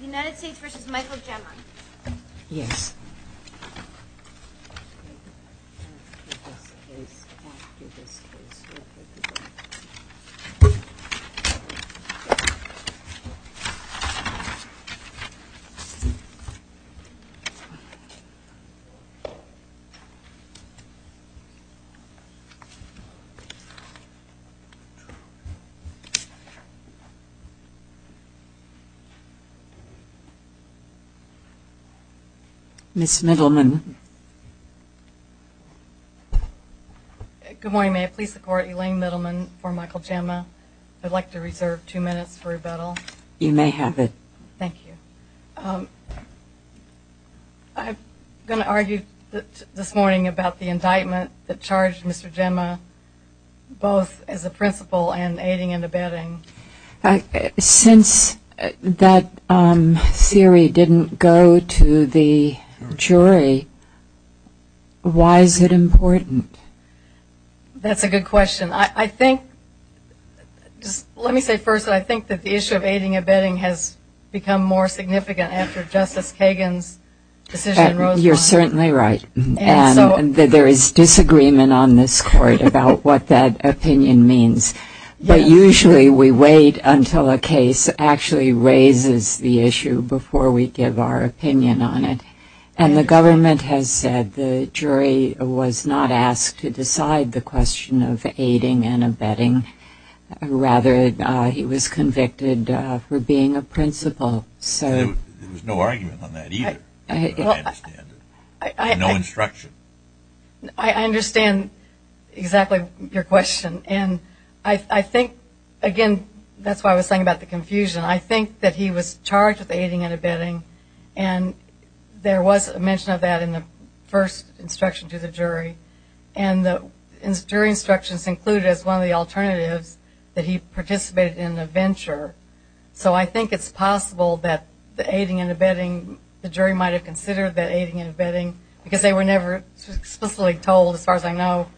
United States v. Michael Gemma Elaine Middleman v. Michael Gemma But if that theory didn't go to the jury, why is it important? That's a good question. I think, just let me say first, I think that the issue of aiding and abetting has become more significant after Justice Kagan's decision in Roseland. You're certainly right. And so And there is disagreement on this Court about what that opinion means. Yes. But usually we wait until a case actually raises the issue before we give our opinion on it. And the government has said the jury was not asked to decide the question of aiding and abetting. Rather, he was convicted for being a principal. So There was no argument on that either. I understand. No instruction. I understand exactly your question. And I think, again, that's why I was saying about the confusion. I think that he was charged with aiding and abetting. And there was a mention of that in the first instruction to the jury. And the jury instructions included as one of the alternatives that he participated in a venture. So I think it's possible that the aiding and abetting, the jury might have considered that aiding and abetting because they were never explicitly told, as far as I know,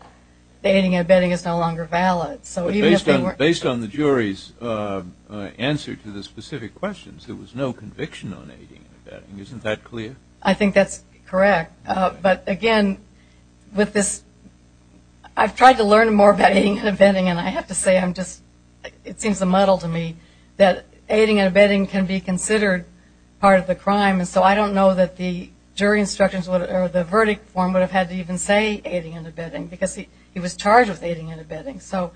that aiding and abetting is no longer valid. Based on the jury's answer to the specific questions, there was no conviction on aiding and abetting. Isn't that clear? I think that's correct. But, again, with this, I've tried to learn more about aiding and abetting, and I have to say I'm just, it seems a muddle to me that aiding and abetting can be considered part of the crime. And so I don't know that the jury instructions or the verdict form would have had to even say aiding and abetting because he was charged with aiding and abetting. So,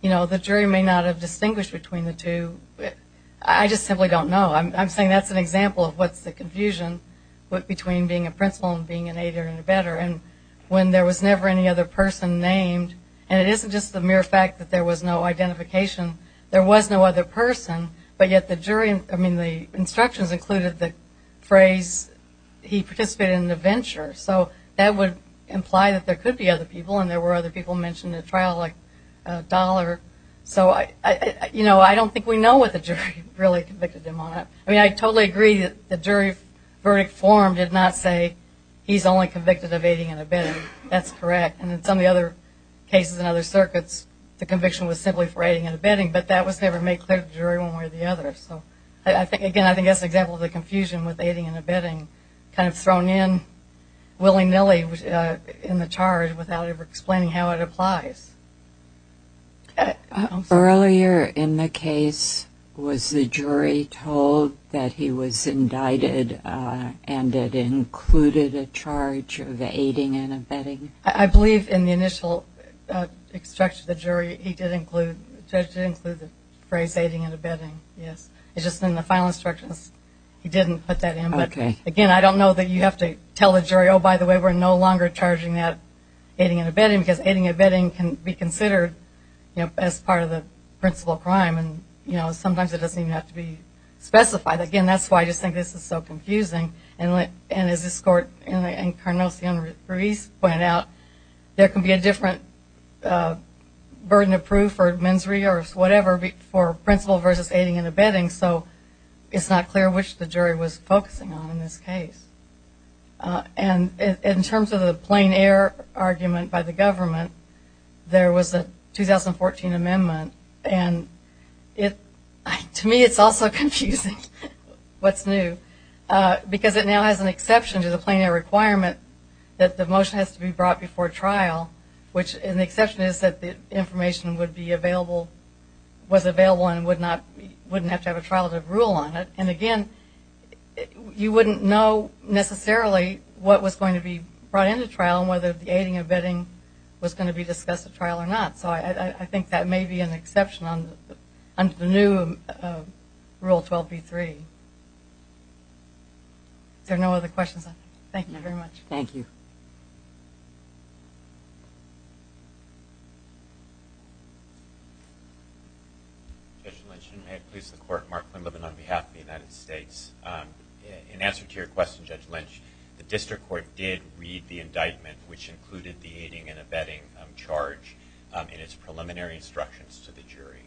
you know, the jury may not have distinguished between the two. I just simply don't know. I'm saying that's an example of what's the confusion between being a principal and being an aider and abetter. And when there was never any other person named, and it isn't just the mere fact that there was no identification, there was no other person, but yet the jury, I mean, the instructions included the phrase he participated in an adventure. So that would imply that there could be other people, and there were other people mentioned in the trial, like Dollar. So, you know, I don't think we know what the jury really convicted him on. I mean, I totally agree that the jury verdict form did not say he's only convicted of aiding and abetting. That's correct. And in some of the other cases in other circuits, the conviction was simply for aiding and abetting, but that was never made clear to the jury one way or the other. So, again, I think that's an example of the confusion with aiding and abetting, kind of thrown in willy-nilly in the charge without ever explaining how it applies. Earlier in the case, was the jury told that he was indicted and it included a charge of aiding and abetting? I believe in the initial instruction to the jury, he did include the phrase aiding and abetting, yes. It's just in the final instructions he didn't put that in. But, again, I don't know that you have to tell the jury, oh, by the way, we're no longer charging that aiding and abetting, because aiding and abetting can be considered, you know, as part of the principal crime, and, you know, sometimes it doesn't even have to be specified. Again, that's why I just think this is so confusing. And as this court and Cardinal Sion-Ruiz pointed out, there can be a different burden of proof or mens re or whatever for principal versus aiding and abetting, so it's not clear which the jury was focusing on in this case. And in terms of the plain error argument by the government, there was a 2014 amendment, and to me it's also confusing what's new, because it now has an exception to the plain error requirement that the motion has to be brought before trial, which an exception is that the information would be available, was available and wouldn't have to have a trial to rule on it. And, again, you wouldn't know necessarily what was going to be brought into trial and whether the aiding and abetting was going to be discussed at trial or not. So I think that may be an exception under the new Rule 12b-3. Is there no other questions? Thank you very much. Thank you. Judge Lynch, and may it please the Court, Mark Quinlivan on behalf of the United States. In answer to your question, Judge Lynch, the district court did read the indictment, which included the aiding and abetting charge in its preliminary instructions to the jury.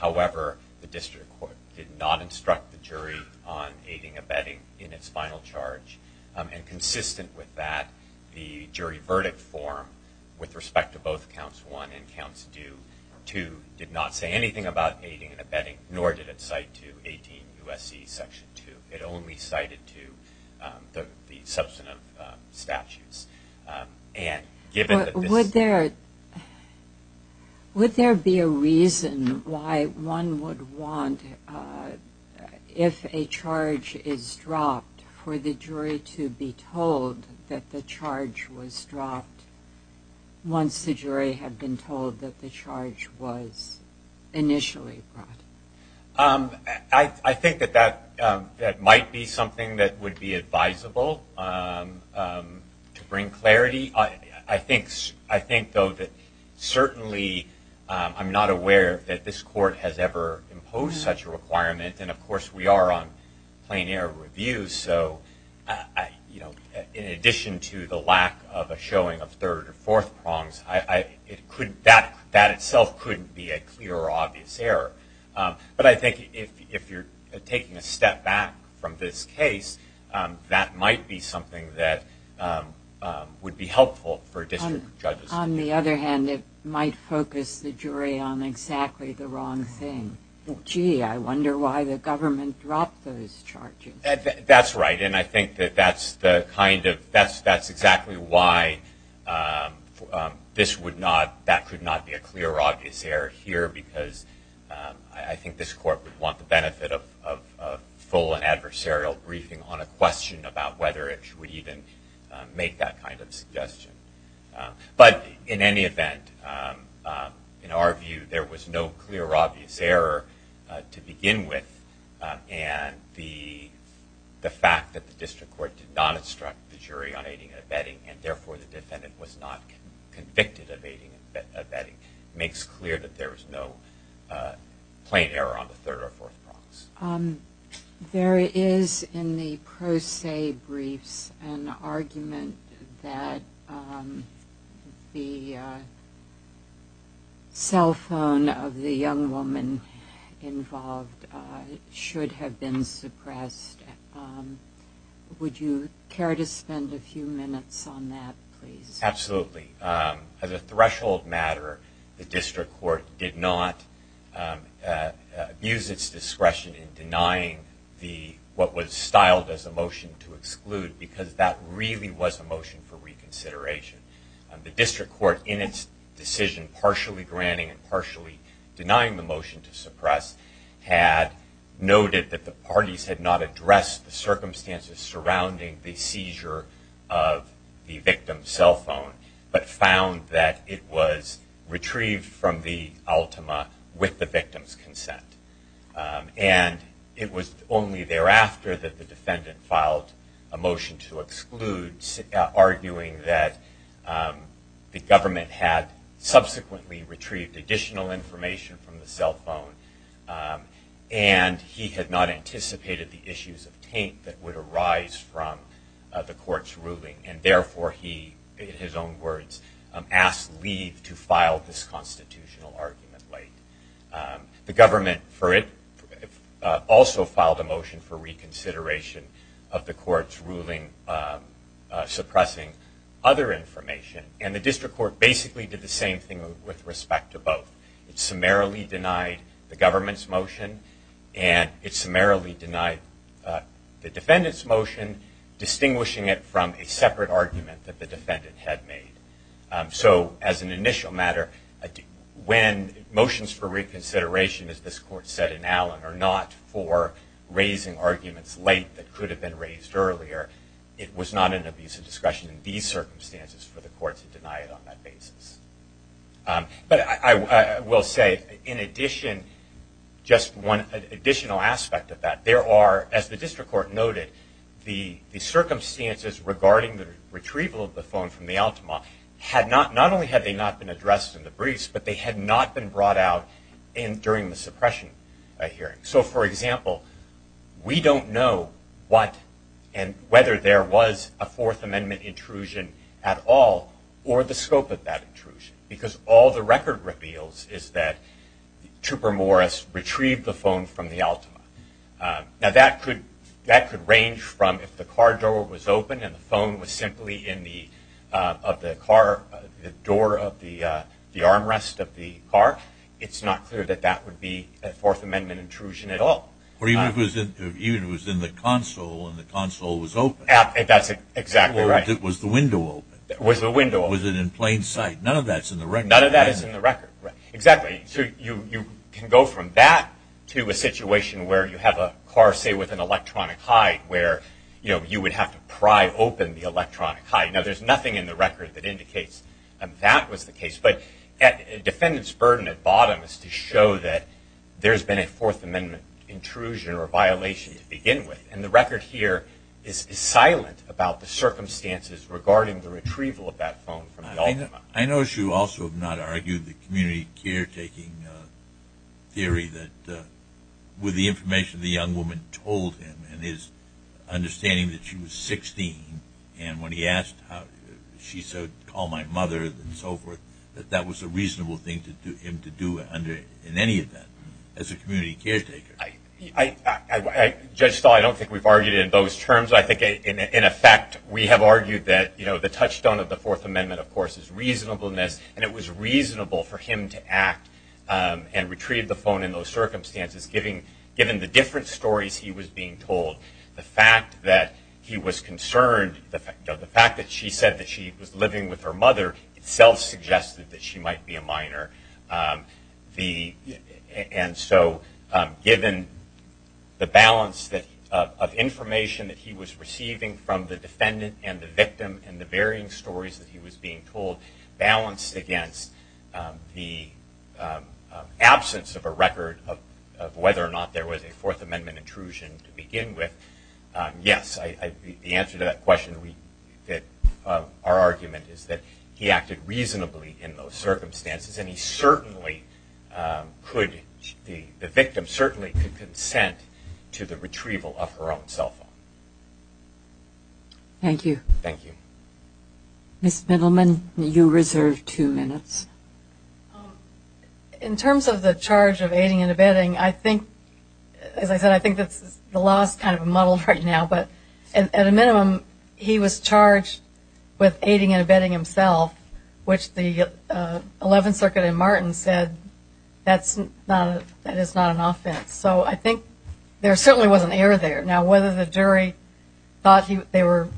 However, the district court did not instruct the jury on aiding and abetting in its final charge. And consistent with that, the jury verdict form, with respect to both counts one and counts two, did not say anything about aiding and abetting, nor did it cite to 18 U.S.C. Section 2. It only cited to the substantive statutes. Would there be a reason why one would want, if a charge is dropped, for the jury to be told that the charge was dropped once the jury had been told that the charge was initially brought? I think that that might be something that would be advisable to bring clarity. I think, though, that certainly I'm not aware that this Court has ever imposed such a requirement. And, of course, we are on plain error review. So in addition to the lack of a showing of third or fourth prongs, that itself couldn't be a clear or obvious error. But I think if you're taking a step back from this case, that might be something that would be helpful for district judges. On the other hand, it might focus the jury on exactly the wrong thing. Gee, I wonder why the government dropped those charges. That's right. And I think that that's exactly why that could not be a clear or obvious error here, because I think this Court would want the benefit of full and adversarial briefing on a question about whether it would even make that kind of suggestion. But in any event, in our view, there was no clear or obvious error to begin with. And the fact that the district court did not instruct the jury on aiding and abetting, and therefore the defendant was not convicted of aiding and abetting, makes clear that there was no plain error on the third or fourth prongs. There is in the pro se briefs an argument that the cell phone of the young woman involved should have been suppressed. Would you care to spend a few minutes on that, please? Absolutely. As a threshold matter, the district court did not use its discretion in denying what was styled as a motion to exclude, because that really was a motion for reconsideration. The district court, in its decision partially granting and partially denying the motion to suppress, had noted that the parties had not addressed the circumstances surrounding the seizure of the victim's cell phone, but found that it was retrieved from the ultima with the victim's consent. And it was only thereafter that the defendant filed a motion to exclude, arguing that the government had subsequently retrieved additional information from the cell phone, and he had not anticipated the issues of taint that would arise from the court's ruling, and therefore he, in his own words, asked leave to file this constitutional argument late. The government for it also filed a motion for reconsideration of the court's ruling suppressing other information, and the district court basically did the same thing with respect to both. It summarily denied the government's motion, and it summarily denied the defendant's motion, distinguishing it from a separate argument that the defendant had made. So, as an initial matter, when motions for reconsideration, as this court said in Allen, are not for raising arguments late that could have been raised earlier, it was not an abuse of discretion in these circumstances for the court to deny it on that basis. But I will say, in addition, just one additional aspect of that, there are, as the district court noted, the circumstances regarding the retrieval of the phone from the Altima, not only had they not been addressed in the briefs, but they had not been brought out during the suppression hearing. So, for example, we don't know what and whether there was a Fourth Amendment intrusion at all, or the scope of that intrusion, because all the record reveals is that Trooper Morris retrieved the phone from the Altima. Now, that could range from if the car door was open and the phone was simply in the car, the door of the armrest of the car, it's not clear that that would be a Fourth Amendment intrusion at all. Or even if it was in the console and the console was open. That's exactly right. Or if it was the window open. Was the window open. Was it in plain sight? None of that's in the record. None of that is in the record. Exactly. So you can go from that to a situation where you have a car, say, with an electronic hide, where you would have to pry open the electronic hide. Now, there's nothing in the record that indicates that that was the case. But a defendant's burden at bottom is to show that there's been a Fourth Amendment intrusion or violation to begin with. And the record here is silent about the circumstances regarding the retrieval of that phone from the Altima. I notice you also have not argued the community caretaking theory that with the information the young woman told him and his understanding that she was 16 and when he asked, she said, call my mother and so forth, that that was a reasonable thing for him to do in any event as a community caretaker. Judge Stahl, I don't think we've argued it in those terms. I think, in effect, we have argued that the touchstone of the Fourth Amendment, of course, is reasonableness, and it was reasonable for him to act and retrieve the phone in those circumstances, given the different stories he was being told. The fact that he was concerned, the fact that she said that she was living with her mother, itself suggested that she might be a minor. And so given the balance of information that he was receiving from the defendant and the victim and the varying stories that he was being told, balanced against the absence of a record of whether or not there was a Fourth Amendment intrusion to begin with, yes, the answer to that question, our argument is that he acted reasonably in those circumstances and the victim certainly could consent to the retrieval of her own cell phone. Thank you. Thank you. Ms. Middleman, you reserve two minutes. In terms of the charge of aiding and abetting, as I said, I think the law is kind of muddled right now, but at a minimum he was charged with aiding and abetting himself, which the Eleventh Circuit in Martin said that is not an offense. So I think there certainly was an error there. Now whether the jury thought they were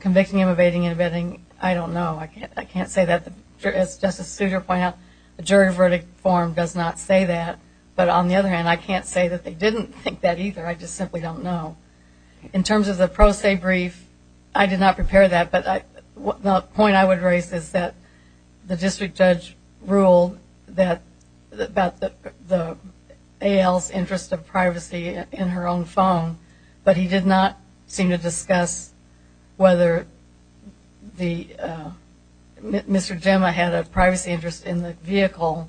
convicting him of aiding and abetting, I don't know. I can't say that. As Justice Souter pointed out, the jury verdict form does not say that. But on the other hand, I can't say that they didn't think that either. I just simply don't know. In terms of the pro se brief, I did not prepare that, but the point I would raise is that the district judge ruled about the AL's interest of privacy in her own phone, but he did not seem to discuss whether Mr. Gemma had a privacy interest in the vehicle,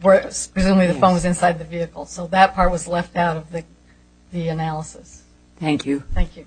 where presumably the phone was inside the vehicle. So that part was left out of the analysis. Thank you. Thank you.